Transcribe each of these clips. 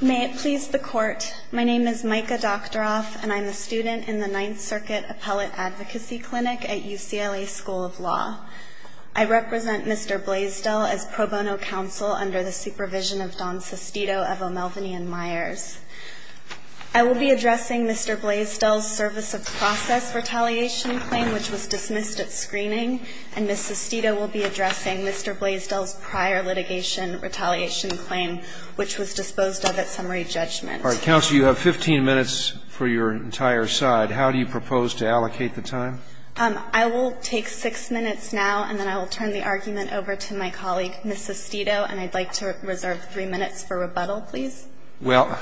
May it please the Court, my name is Micah Doktoroff, and I'm a student in the Ninth Circuit Appellate Advocacy Clinic at UCLA School of Law. I represent Mr. Blaisdell as pro bono counsel under the supervision of Don Sestito of O'Melveny & Myers. I will be addressing Mr. Blaisdell's service of process retaliation claim, which was dismissed at screening, and Ms. Sestito will be addressing Mr. Blaisdell's prior litigation retaliation claim, which was disposed of at summary judgment. Alright, counsel, you have 15 minutes for your entire side. How do you propose to allocate the time? I will take 6 minutes now, and then I will turn the argument over to my colleague, Ms. Sestito, and I'd like to reserve 3 minutes for rebuttal, please. Well,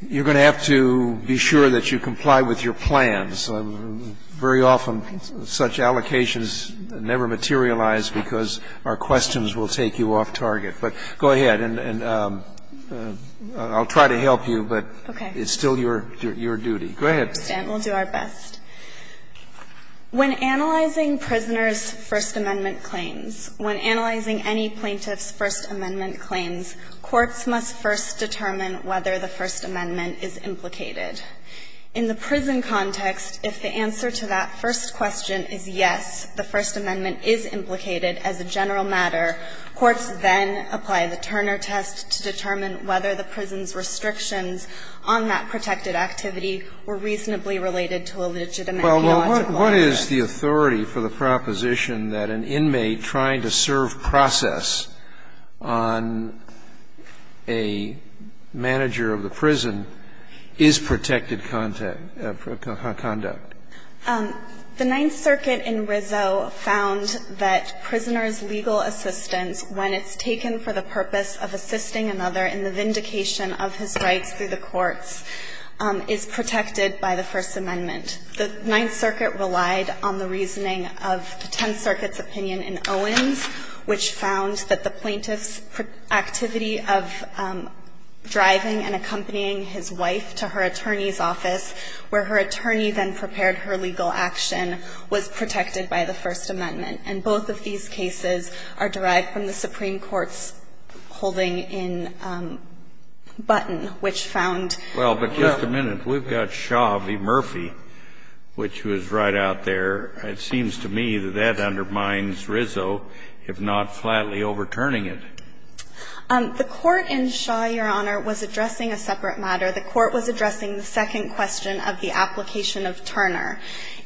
you're going to have to be sure that you comply with your plans. Very often, such allocations never materialize because our questions will take you off target. But go ahead, and I'll try to help you, but it's still your duty. Go ahead. We'll do our best. When analyzing prisoners' First Amendment claims, when analyzing any plaintiff's First Amendment claims, courts must first determine whether the First Amendment is implicated. In the prison context, if the answer to that first question is yes, the First Amendment is implicated as a general matter, courts then apply the Turner test to determine whether the prison's restrictions on that protected activity were reasonably related to a legitimate theological argument. Well, what is the authority for the proposition that an inmate trying to serve process on a manager of the prison is protected contact or conduct? The Ninth Circuit in Rizzo found that prisoners' legal assistance, when it's taken for the purpose of assisting another in the vindication of his rights through the courts, is protected by the First Amendment. The Ninth Circuit relied on the reasoning of the Tenth Circuit's opinion in Owens, which found that the plaintiff's activity of driving and accompanying his wife to her attorney's office, where her attorney then prepared her legal action, was protected by the First Amendment. And both of these cases are derived from the Supreme Court's holding in Button, which found that the plaintiff's activity was protected by the First Amendment. If not flatly overturning it. The Court in Shaw, Your Honor, was addressing a separate matter. The Court was addressing the second question of the application of Turner.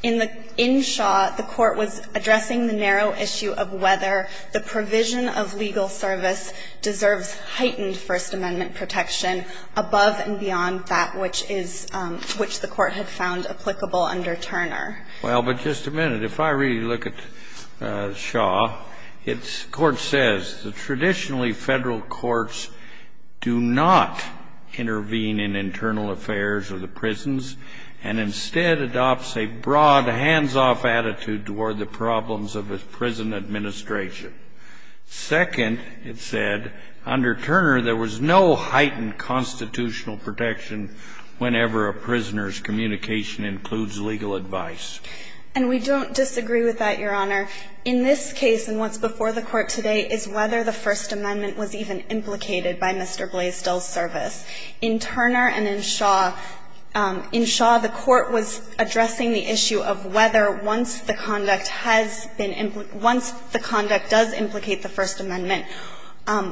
In the – in Shaw, the Court was addressing the narrow issue of whether the provision of legal service deserves heightened First Amendment protection above and beyond that which is – which the Court had found applicable under Turner. Well, but just a minute. If I really look at Shaw, it's – the Court says, the traditionally Federal courts do not intervene in internal affairs of the prisons and instead adopts a broad, hands-off attitude toward the problems of a prison administration. Second, it said, under Turner, there was no heightened constitutional protection whenever a prisoner's communication includes legal advice. And we don't disagree with that, Your Honor. In this case, and what's before the Court today, is whether the First Amendment was even implicated by Mr. Blaisdell's service. In Turner and in Shaw – in Shaw, the Court was addressing the issue of whether once the conduct has been – once the conduct does implicate the First Amendment,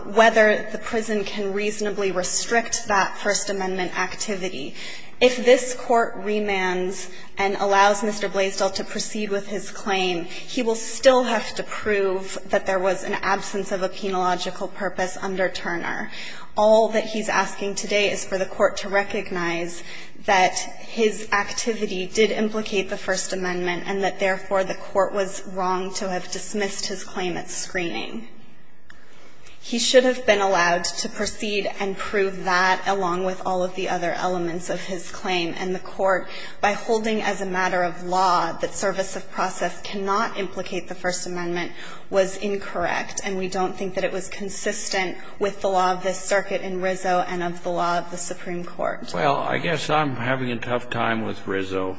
whether the prison can reasonably restrict that First Amendment activity. If this Court remands and allows Mr. Blaisdell to proceed with his claim, he will still have to prove that there was an absence of a penological purpose under Turner. All that he's asking today is for the Court to recognize that his activity did implicate the First Amendment and that, therefore, the Court was wrong to have dismissed his claim at screening. He should have been allowed to proceed and prove that, along with all of the other elements of his claim. And the Court, by holding as a matter of law that service of process cannot implicate the First Amendment, was incorrect. And we don't think that it was consistent with the law of this circuit in Rizzo and of the law of the Supreme Court. Well, I guess I'm having a tough time with Rizzo,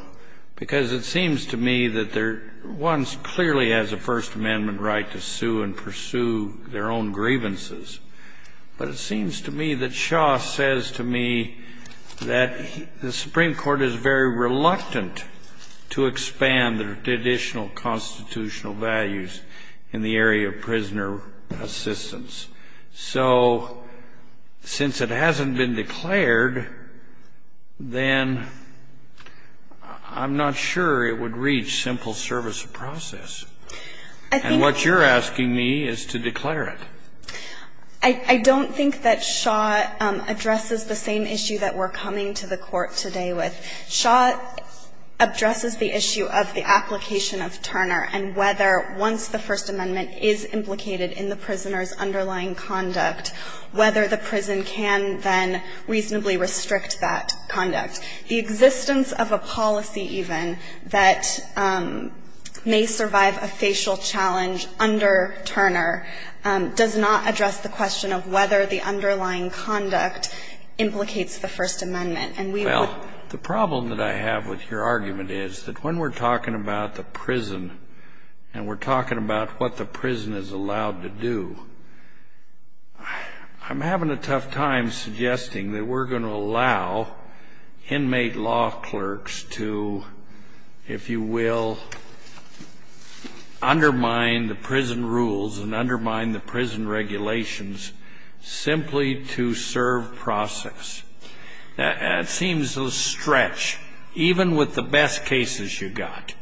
because it seems to me that there clearly has a First Amendment right to sue and pursue their own grievances, but it seems to me that Shaw says to me that the Supreme Court is very reluctant to expand the additional constitutional values in the area of prisoner assistance. So since it hasn't been declared, then I'm not sure it would reach simple service of process. And what you're asking me is to declare it. I don't think that Shaw addresses the same issue that we're coming to the Court today with. Shaw addresses the issue of the application of Turner and whether, once the First Amendment is implicated in the prisoner's underlying conduct, whether the prison can then reasonably restrict that conduct. And I think that the question of whether we survive a facial challenge under Turner does not address the question of whether the underlying conduct implicates the First Amendment. And we would not be able to do that if we didn't have the First Amendment. Well, the problem that I have with your argument is that when we're talking about the prison and we're talking about what the prison is allowed to do, I'm having a tough time suggesting that we're going to allow inmate law clerks to, if you will, undermine the prison rules and undermine the prison regulations simply to serve process. It seems a stretch, even with the best cases you've got.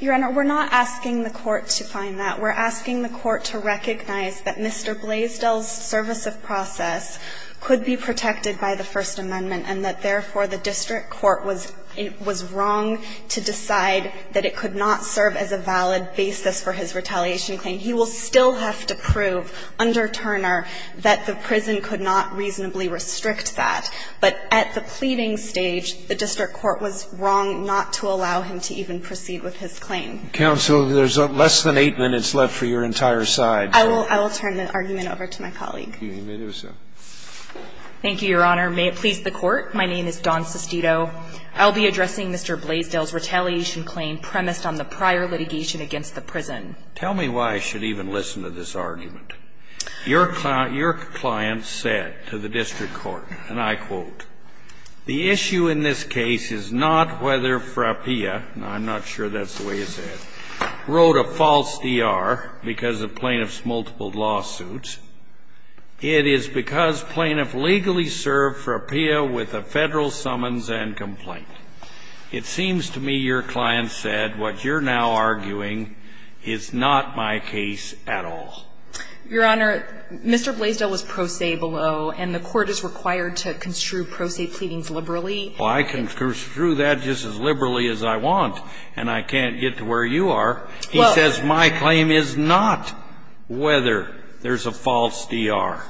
Your Honor, we're not asking the Court to find that. We're asking the Court to recognize that Mr. Blaisdell's service of process could be protected by the First Amendment, and that, therefore, the district court was wrong to decide that it could not serve as a valid basis for his retaliation claim. He will still have to prove under Turner that the prison could not reasonably restrict that. But at the pleading stage, the district court was wrong not to allow him to even proceed with his claim. Counsel, there's less than eight minutes left for your entire side. I will turn the argument over to my colleague. Thank you, Your Honor. May it please the Court, my name is Dawn Sestito. I'll be addressing Mr. Blaisdell's retaliation claim premised on the prior litigation against the prison. Tell me why I should even listen to this argument. Your client said to the district court, and I quote, Your Honor, Mr. Blaisdell was pro se below, and the Court is required to construe with the Federal summons and complaint. The issue in this case is not whether Frappea, I'm not sure that's the way you say it, wrote a false D.R. because of plaintiff's multiple lawsuits. It is because plaintiff legally served Frappea with a Federal summons and complaint. It seems to me your client said what you're now arguing is not my case at all. Your Honor, Mr. Blaisdell was pro se below, and the Court is required to construe pro se pleadings liberally. I can construe that just as liberally as I want, and I can't get to where you are. He says my claim is not whether there's a false D.R.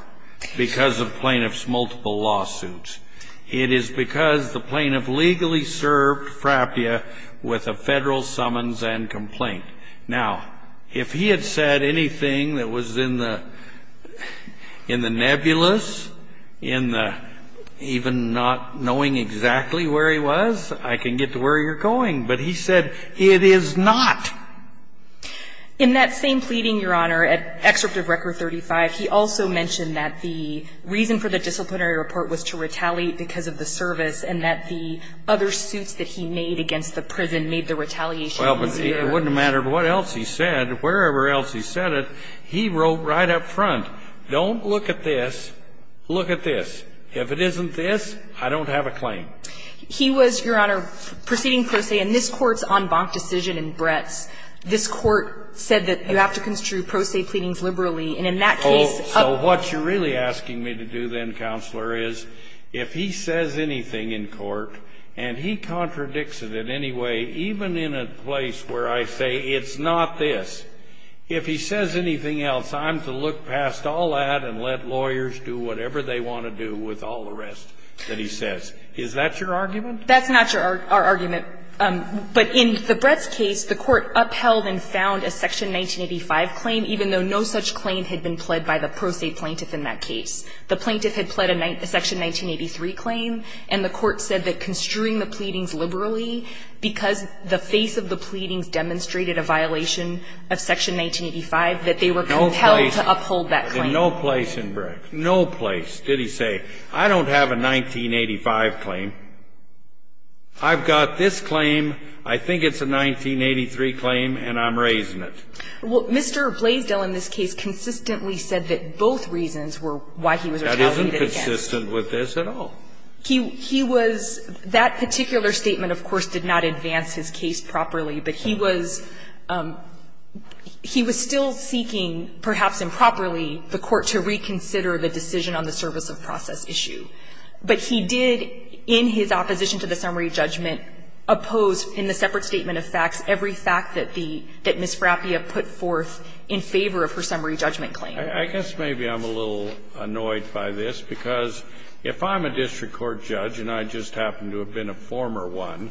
because of plaintiff's multiple lawsuits. It is because the plaintiff legally served Frappea with a Federal summons and complaint. Now, if he had said anything that was in the nebulous, in the even not knowing exactly where he was, I can get to where you're going. But he said it is not. In that same pleading, Your Honor, at Excerpt of Record 35, he also mentioned that the reason for the disciplinary report was to retaliate because of the service and that the other suits that he made against the prison made the retaliation easier. Well, but it wouldn't have mattered what else he said, wherever else he said it. He wrote right up front, don't look at this, look at this. If it isn't this, I don't have a claim. He was, Your Honor, proceeding pro se, and this Court's en banc decision in Brett's, this Court said that you have to construe pro se pleadings liberally, and in that case up to the court. So what you're really asking me to do then, Counselor, is if he says anything in court and he contradicts it in any way, even in a place where I say it's not this, if he says anything else, I'm to look past all that and let lawyers do whatever they want to do with all the rest that he says. Is that your argument? That's not our argument. But in the Brett's case, the Court upheld and found a section 1985 claim, even though no such claim had been pled by the pro se plaintiff in that case. The plaintiff had pled a section 1983 claim, and the Court said that construing the pleadings liberally, because the face of the pleadings demonstrated a violation of section 1985, that they were compelled to uphold that claim. No place in Brett's, no place, did he say, I don't have a 1985 claim. I've got this claim. I think it's a 1983 claim, and I'm raising it. Well, Mr. Blaisdell in this case consistently said that both reasons were why he was retaliating against him. That isn't consistent with this at all. He was – that particular statement, of course, did not advance his case properly. But he was – he was still seeking, perhaps improperly, the Court to reconsider the decision on the service of process issue. But he did, in his opposition to the summary judgment, oppose in the separate statement of facts every fact that the – that Ms. Frappia put forth in favor of her summary judgment claim. I guess maybe I'm a little annoyed by this, because if I'm a district court judge and I just happen to have been a former one,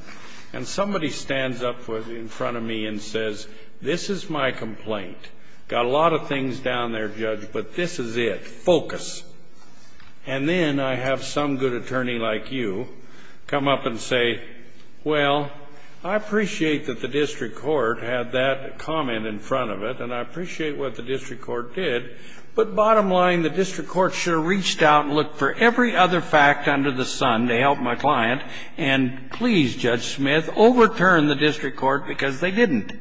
and somebody stands up in front of me and says, this is my complaint, got a lot of things down there, Judge, but this is it, focus, and then I have some good attorney like you come up and say, well, I appreciate that the district court had that comment in front of it, and I appreciate what the district court did, but bottom line, the district court should have reached out and looked for every other fact under the sun to help my client, and please, Judge Smith, overturn the district court, because they didn't.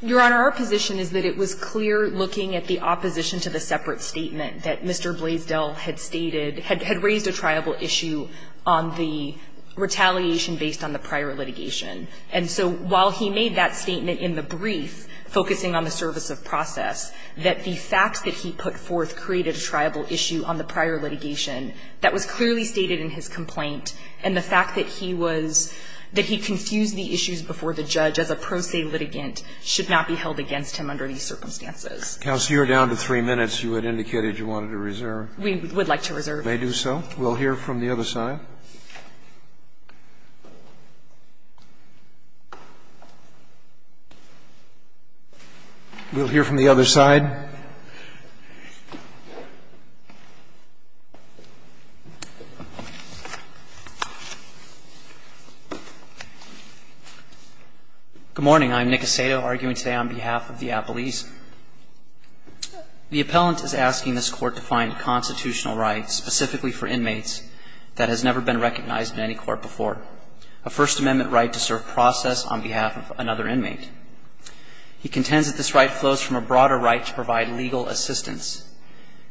Your Honor, our position is that it was clear looking at the opposition to the separate statement that Mr. Blaisdell had stated, had raised a triable issue on the retaliation based on the prior litigation. And so while he made that statement in the brief focusing on the service of process, that the facts that he put forth created a triable issue on the prior litigation, that was clearly stated in his complaint, and the fact that he was – that he confused the issues before the judge as a pro se litigant should not be held against him under these circumstances. Counsel, you are down to three minutes. You had indicated you wanted to reserve. We would like to reserve. You may do so. We'll hear from the other side. We'll hear from the other side. Good morning. I'm Nick Aceto, arguing today on behalf of the appellees. The appellant is asking this Court to find constitutional rights specifically for inmates that has never been recognized in any court before, a First Amendment right to serve process on behalf of another inmate. He contends that this right flows from a broader right to provide legal assistance,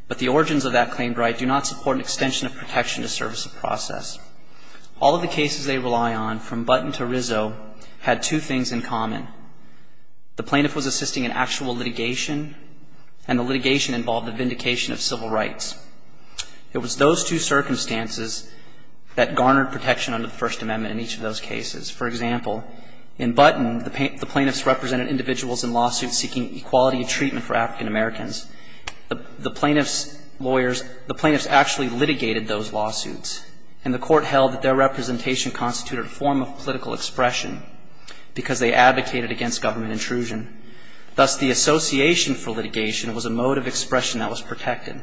but the origins of that claimed right do not support an extension of protection to service of process. All of the cases they rely on, from Button to Rizzo, had two things in common. The plaintiff was assisting an actual litigation, and the litigation involved a vindication of civil rights. It was those two circumstances that garnered protection under the First Amendment in each of those cases. For example, in Button, the plaintiffs represented individuals in lawsuits seeking equality of treatment for African-Americans. The plaintiffs' lawyers, the plaintiffs actually litigated those lawsuits, and the Court held that their representation constituted a form of political expression because they advocated against government intrusion. Thus, the association for litigation was a mode of expression that was protected.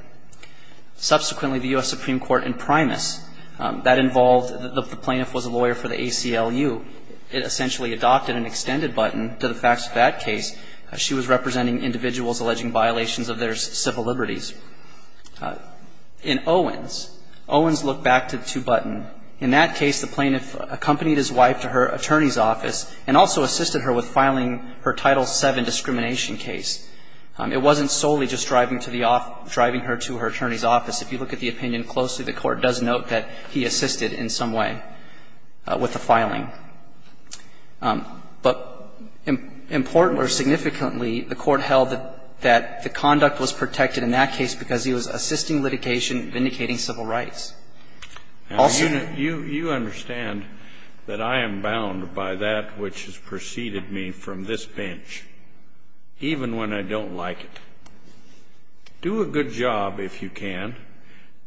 Subsequently, the U.S. Supreme Court in Primus, that involved, the plaintiff was a lawyer for the ACLU, it essentially adopted an extended Button to the facts of that case. She was representing individuals alleging violations of their civil liberties. In Owens, Owens looked back to Button. In that case, the plaintiff accompanied his wife to her attorney's office and also assisted her with filing her Title VII discrimination case. It wasn't solely just driving to the off – driving her to her attorney's office. If you look at the opinion closely, the Court does note that he assisted in some way. With the filing. But important or significantly, the Court held that the conduct was protected in that case because he was assisting litigation, vindicating civil rights. Also the – You understand that I am bound by that which has preceded me from this bench, even when I don't like it. Do a good job, if you can,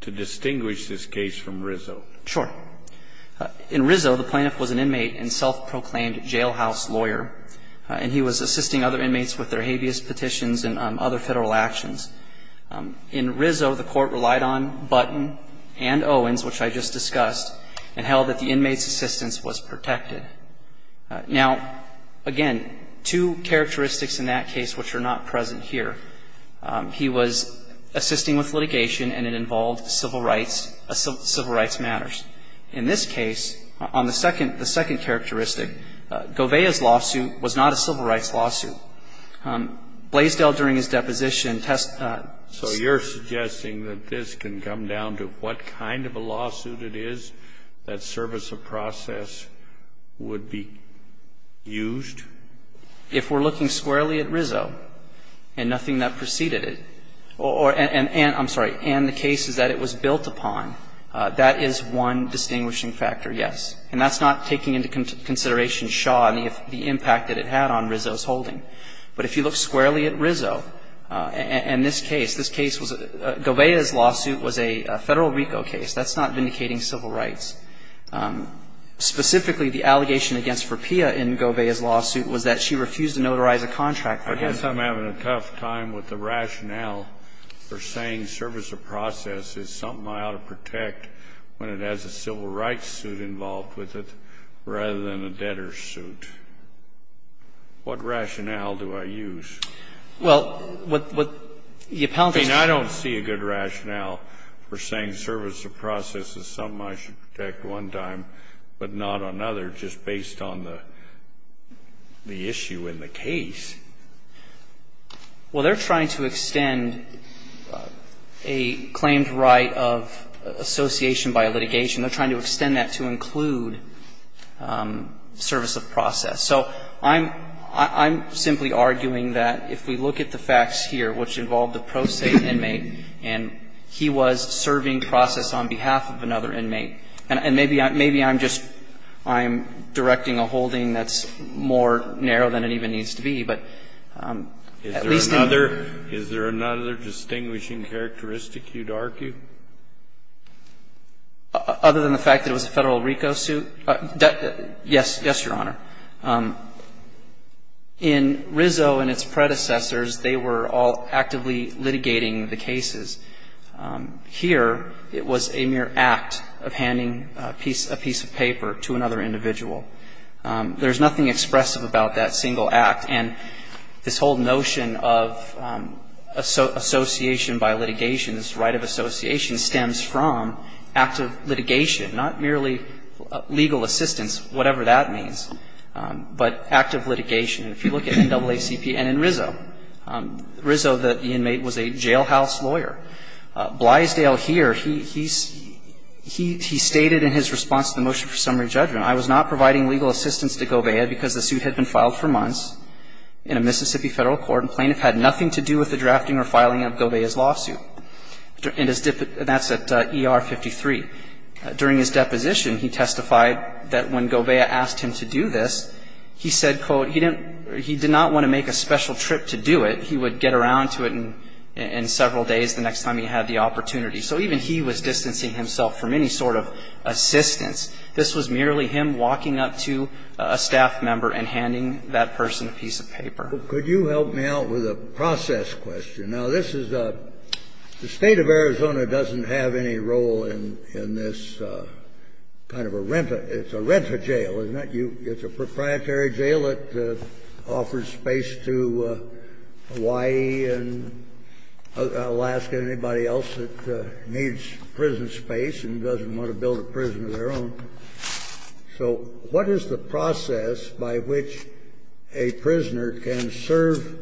to distinguish this case from Rizzo. Sure. In Rizzo, the plaintiff was an inmate and self-proclaimed jailhouse lawyer. And he was assisting other inmates with their habeas petitions and other Federal actions. In Rizzo, the Court relied on Button and Owens, which I just discussed, and held that the inmate's assistance was protected. Now, again, two characteristics in that case which are not present here. He was assisting with litigation and it involved civil rights, civil rights matters. In this case, on the second characteristic, Govea's lawsuit was not a civil rights lawsuit. Blaisdell, during his deposition, test the – So you're suggesting that this can come down to what kind of a lawsuit it is, that service of process would be used? If we're looking squarely at Rizzo and nothing that preceded it, or – and, I'm And that's not taking into consideration Shaw and the impact that it had on Rizzo's holding. But if you look squarely at Rizzo and this case, this case was – Govea's lawsuit was a Federal RICO case. That's not vindicating civil rights. Specifically, the allegation against Verpia in Govea's lawsuit was that she refused to notarize a contract for him. I guess I'm having a tough time with the rationale for saying service of process is something I ought to protect when it has a civil rights suit involved with it, rather than a debtor's suit. What rationale do I use? Well, what the appellant is saying – I mean, I don't see a good rationale for saying service of process is something I should protect one time, but not another, just based on the issue in the case. Well, they're trying to extend a claimed right of association by a litigation. They're trying to extend that to include service of process. So I'm – I'm simply arguing that if we look at the facts here, which involved the pro se inmate, and he was serving process on behalf of another inmate, and maybe I'm just – I'm directing a holding that's more narrow than it even needs to be, but at least in – Is there another – is there another distinguishing characteristic you'd argue? Other than the fact that it was a Federal RICO suit? Yes. Yes, Your Honor. In Rizzo and its predecessors, they were all actively litigating the cases. Here, it was a mere act of handing a piece of paper to another individual. There's nothing expressive about that single act. And this whole notion of association by litigation, this right of association, stems from active litigation, not merely legal assistance, whatever that means, but active litigation. And if you look at NAACP and in Rizzo, Rizzo, the inmate, was a jailhouse lawyer. Blisdale here, he's – he stated in his response to the motion for summary judgment, I was not providing legal assistance to Govea because the suit had been in a Mississippi Federal Court and plaintiff had nothing to do with the drafting or filing of Govea's lawsuit. And that's at ER 53. During his deposition, he testified that when Govea asked him to do this, he said, quote, he didn't – he did not want to make a special trip to do it. He would get around to it in several days the next time he had the opportunity. So even he was distancing himself from any sort of assistance. This was merely him walking up to a staff member and handing that person a piece of paper. Kennedy, could you help me out with a process question? Now, this is a – the State of Arizona doesn't have any role in this kind of a renta – it's a renta jail, isn't it? It's a proprietary jail that offers space to Hawaii and Alaska and anybody else that So what is the process by which a prisoner can serve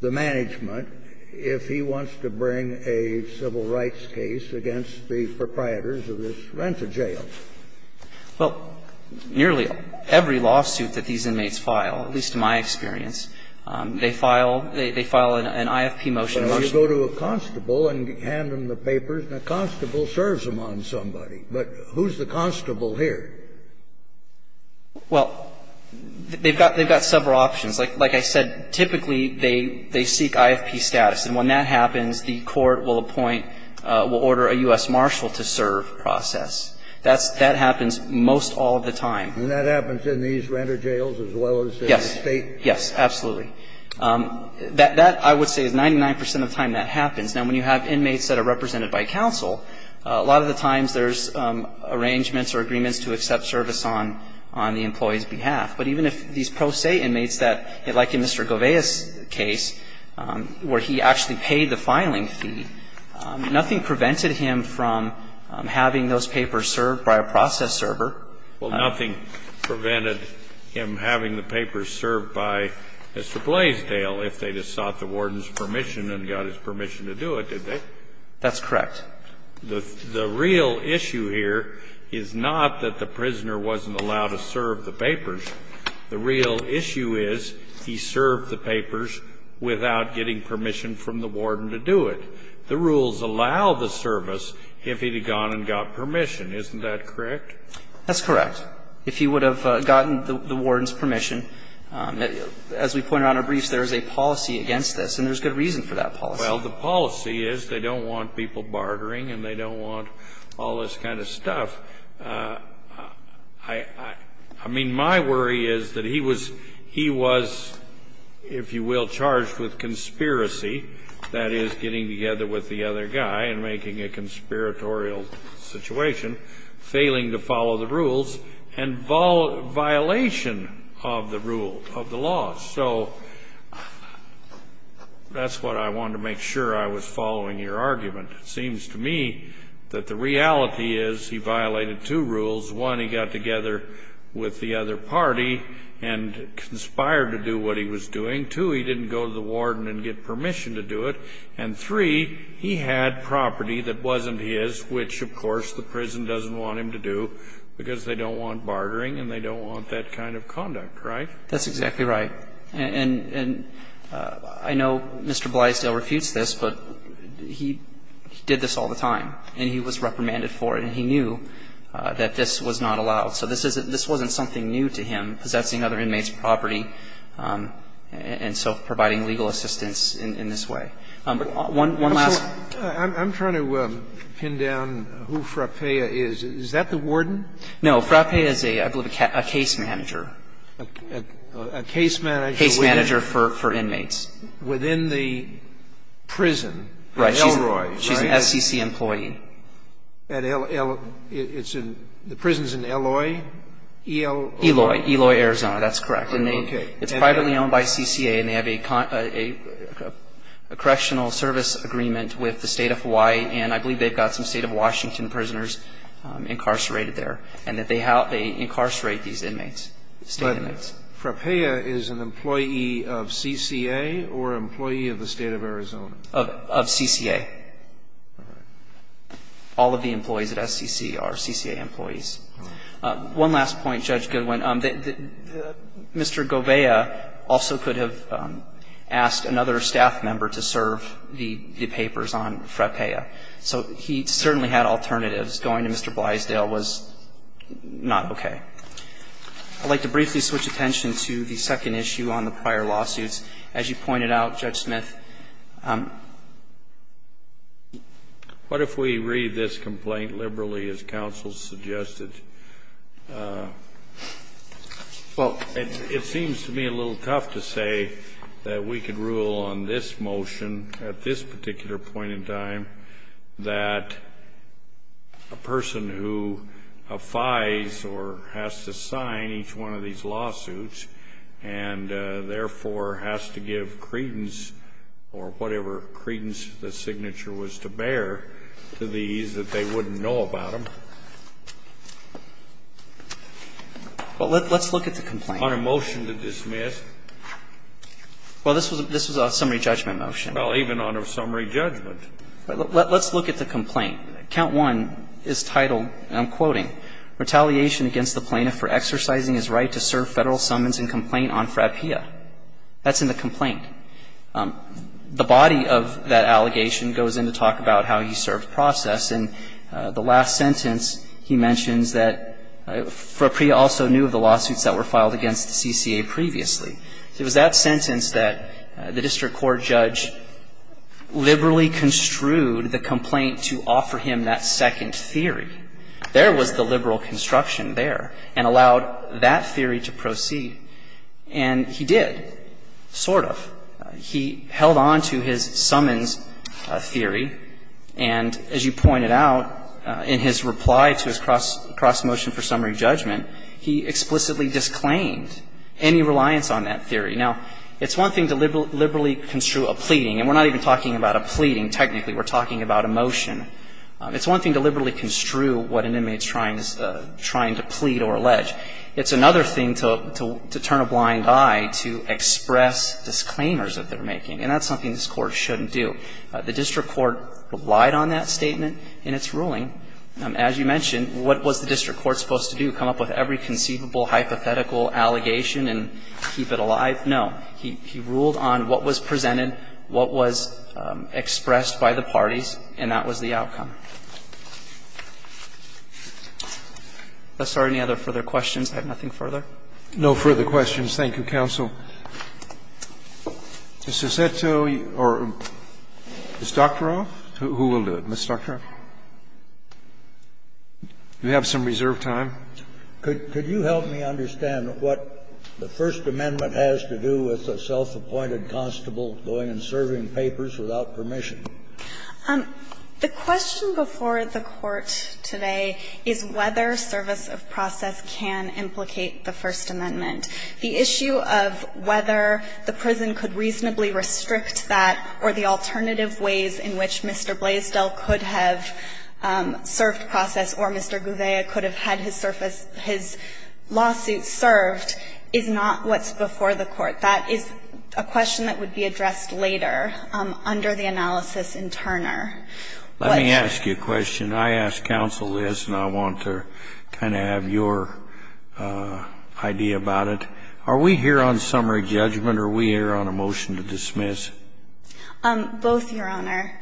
the management if he wants to bring a civil rights case against the proprietors of this renta jail? Well, nearly every lawsuit that these inmates file, at least in my experience, they file – they file an IFP motion. So you go to a constable and hand them the papers and a constable serves them on somebody. But who's the constable here? Well, they've got several options. Like I said, typically they seek IFP status. And when that happens, the court will appoint – will order a U.S. marshal to serve the process. That happens most all of the time. And that happens in these renta jails as well as in the State? Yes, yes, absolutely. That, I would say, is 99 percent of the time that happens. Now, when you have inmates that are represented by counsel, a lot of the times there's arrangements or agreements to accept service on the employee's behalf. But even if these pro se inmates that – like in Mr. Gouveia's case where he actually paid the filing fee, nothing prevented him from having those papers served by a process server. Well, nothing prevented him having the papers served by Mr. Blaisdell if they just sought the warden's permission and got his permission to do it, did they? That's correct. The real issue here is not that the prisoner wasn't allowed to serve the papers. The real issue is he served the papers without getting permission from the warden to do it. The rules allow the service if he had gone and got permission. Isn't that correct? That's correct, if he would have gotten the warden's permission. As we pointed out in our briefs, there is a policy against this, and there's good reason for that policy. Well, the policy is they don't want people bartering and they don't want all this kind of stuff. I mean, my worry is that he was – he was, if you will, charged with conspiracy, that is, getting together with the other guy and making a conspiratorial situation, failing to follow the rules, and violation of the rule, of the laws. So that's what I wanted to make sure I was following your argument. It seems to me that the reality is he violated two rules. One, he got together with the other party and conspired to do what he was doing. Two, he didn't go to the warden and get permission to do it. And three, he had property that wasn't his, which, of course, the prison doesn't want him to do because they don't want bartering and they don't want that kind of conduct, right? That's exactly right. And I know Mr. Blysdale refutes this, but he did this all the time, and he was reprimanded for it, and he knew that this was not allowed. So this isn't – this wasn't something new to him, possessing other inmates' property and self-providing legal assistance in this way. One last question. I'm trying to pin down who Frappea is. Is that the warden? No. Frappea is, I believe, a case manager. A case manager for inmates. Within the prison, Elroy, right? She's an SCC employee. And the prison's in Eloy? Eloy, Eloy, Arizona. That's correct. Okay. It's privately owned by CCA, and they have a correctional service agreement with the State of Hawaii, and I believe they've got some State of Washington prisoners incarcerated there, and that they incarcerate these inmates, state inmates. But Frappea is an employee of CCA or employee of the State of Arizona? Of CCA. All right. All of the employees at SCC are CCA employees. One last point, Judge Goodwin. Mr. Govea also could have asked another staff member to serve the papers on Frappea. So he certainly had alternatives. Going to Mr. Blisdale was not okay. I'd like to briefly switch attention to the second issue on the prior lawsuits. As you pointed out, Judge Smith, what if we read this complaint liberally, as counsel suggested? Well, it seems to me a little tough to say that we could rule on this motion at this particular point in time that a person who affides or has to sign each one of these lawsuits and therefore has to give credence or whatever credence the signature was to bear to these plaintiffs is that they wouldn't know about them. Well, let's look at the complaint. On a motion to dismiss? Well, this was a summary judgment motion. Well, even on a summary judgment. Let's look at the complaint. Count 1 is titled, and I'm quoting, "...retaliation against the plaintiff for exercising his right to serve Federal summons and complaint on Frappea." That's in the complaint. The body of that allegation goes in to talk about how he served process. In the last sentence, he mentions that Frappea also knew of the lawsuits that were filed against the CCA previously. It was that sentence that the district court judge liberally construed the complaint to offer him that second theory. There was the liberal construction there and allowed that theory to proceed. And he did, sort of. He held on to his summons theory, and as you pointed out, in his reply to his cross motion for summary judgment, he explicitly disclaimed any reliance on that theory. Now, it's one thing to liberally construe a pleading, and we're not even talking about a pleading technically. We're talking about a motion. It's one thing to liberally construe what an inmate's trying to plead or allege. It's another thing to turn a blind eye to express disclaimers that they're making, and that's something this Court shouldn't do. The district court relied on that statement in its ruling. As you mentioned, what was the district court supposed to do, come up with every conceivable hypothetical allegation and keep it alive? No. He ruled on what was presented, what was expressed by the parties, and that was the outcome. If there are any other further questions, I have nothing further. No further questions. Thank you, counsel. Ms. Sosetto or Ms. Doctoroff? Who will do it? Ms. Doctoroff? Do we have some reserved time? Could you help me understand what the First Amendment has to do with a self-appointed constable going and serving papers without permission? The question before the Court today is whether service of process can implicate the First Amendment. The issue of whether the prison could reasonably restrict that or the alternative ways in which Mr. Blaisdell could have served process or Mr. Gouveia could have had his surface, his lawsuit served, is not what's before the Court. That is a question that would be addressed later under the analysis in Turner. Let me ask you a question. I asked counsel this, and I want to kind of have your idea about it. Are we here on summary judgment or are we here on a motion to dismiss? Both, Your Honor.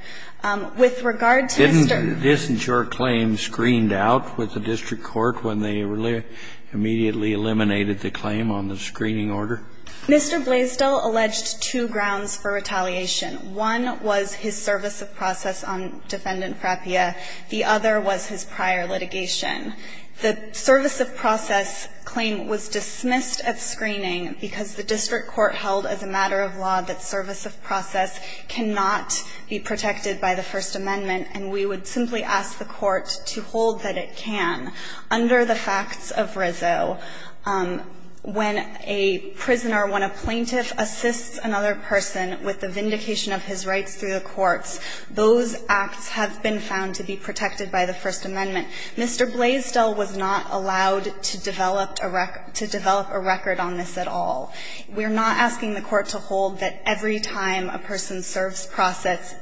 With regard to Mr. Isn't your claim screened out with the district court when they immediately eliminated the claim on the screening order? Mr. Blaisdell alleged two grounds for retaliation. One was his service of process on Defendant Frappia. The other was his prior litigation. The service of process claim was dismissed at screening because the district court held as a matter of law that service of process cannot be protected by the First Amendment, and we would simply ask the Court to hold that it can. Under the facts of Rizzo, when a prisoner, when a plaintiff assists another person with the vindication of his rights through the courts, those acts have been found to be protected by the First Amendment. Mr. Blaisdell was not allowed to develop a record on this at all. We're not asking the Court to hold that every time a person serves process,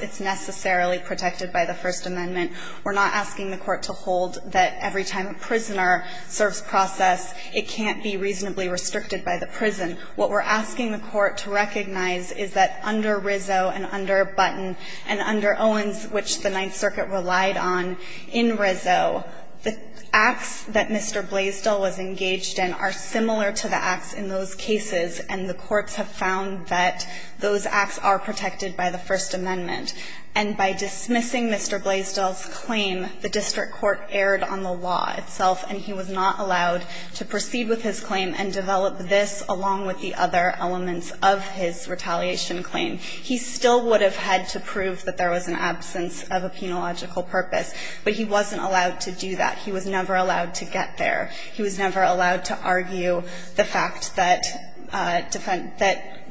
it's necessarily protected by the First Amendment. We're not asking the Court to hold that every time a prisoner serves process, it can't be reasonably restricted by the prison. What we're asking the Court to recognize is that under Rizzo and under Button and under Owens, which the Ninth Circuit relied on in Rizzo, the acts that Mr. Blaisdell was engaged in are similar to the acts in those cases, and the courts have found that those acts are protected by the First Amendment. And by dismissing Mr. Blaisdell's claim, the district court erred on the law itself, and he was not allowed to proceed with his claim and develop this along with the other elements of his retaliation claim. He still would have had to prove that there was an absence of a penological purpose, but he wasn't allowed to do that. He was never allowed to get there. He was never allowed to argue the fact that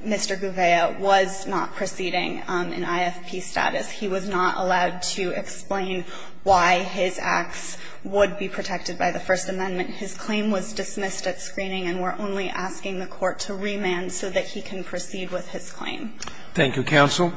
Mr. Gouveia was not proceeding in IFP status. He was not allowed to explain why his acts would be protected by the First Amendment. His claim was dismissed at screening, and we're only asking the Court to remand so that he can proceed with his claim. Thank you, counsel.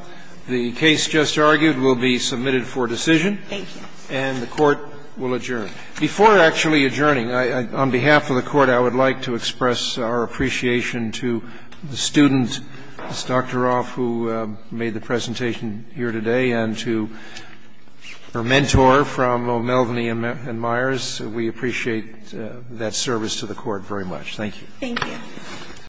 The case just argued will be submitted for decision. Thank you. And the Court will adjourn. Before actually adjourning, on behalf of the Court, I would like to express our appreciation to the student, Ms. Doktoroff, who made the presentation here today, and to her mentor from Melvaney and Myers. We appreciate that service to the Court very much. Thank you. Thank you.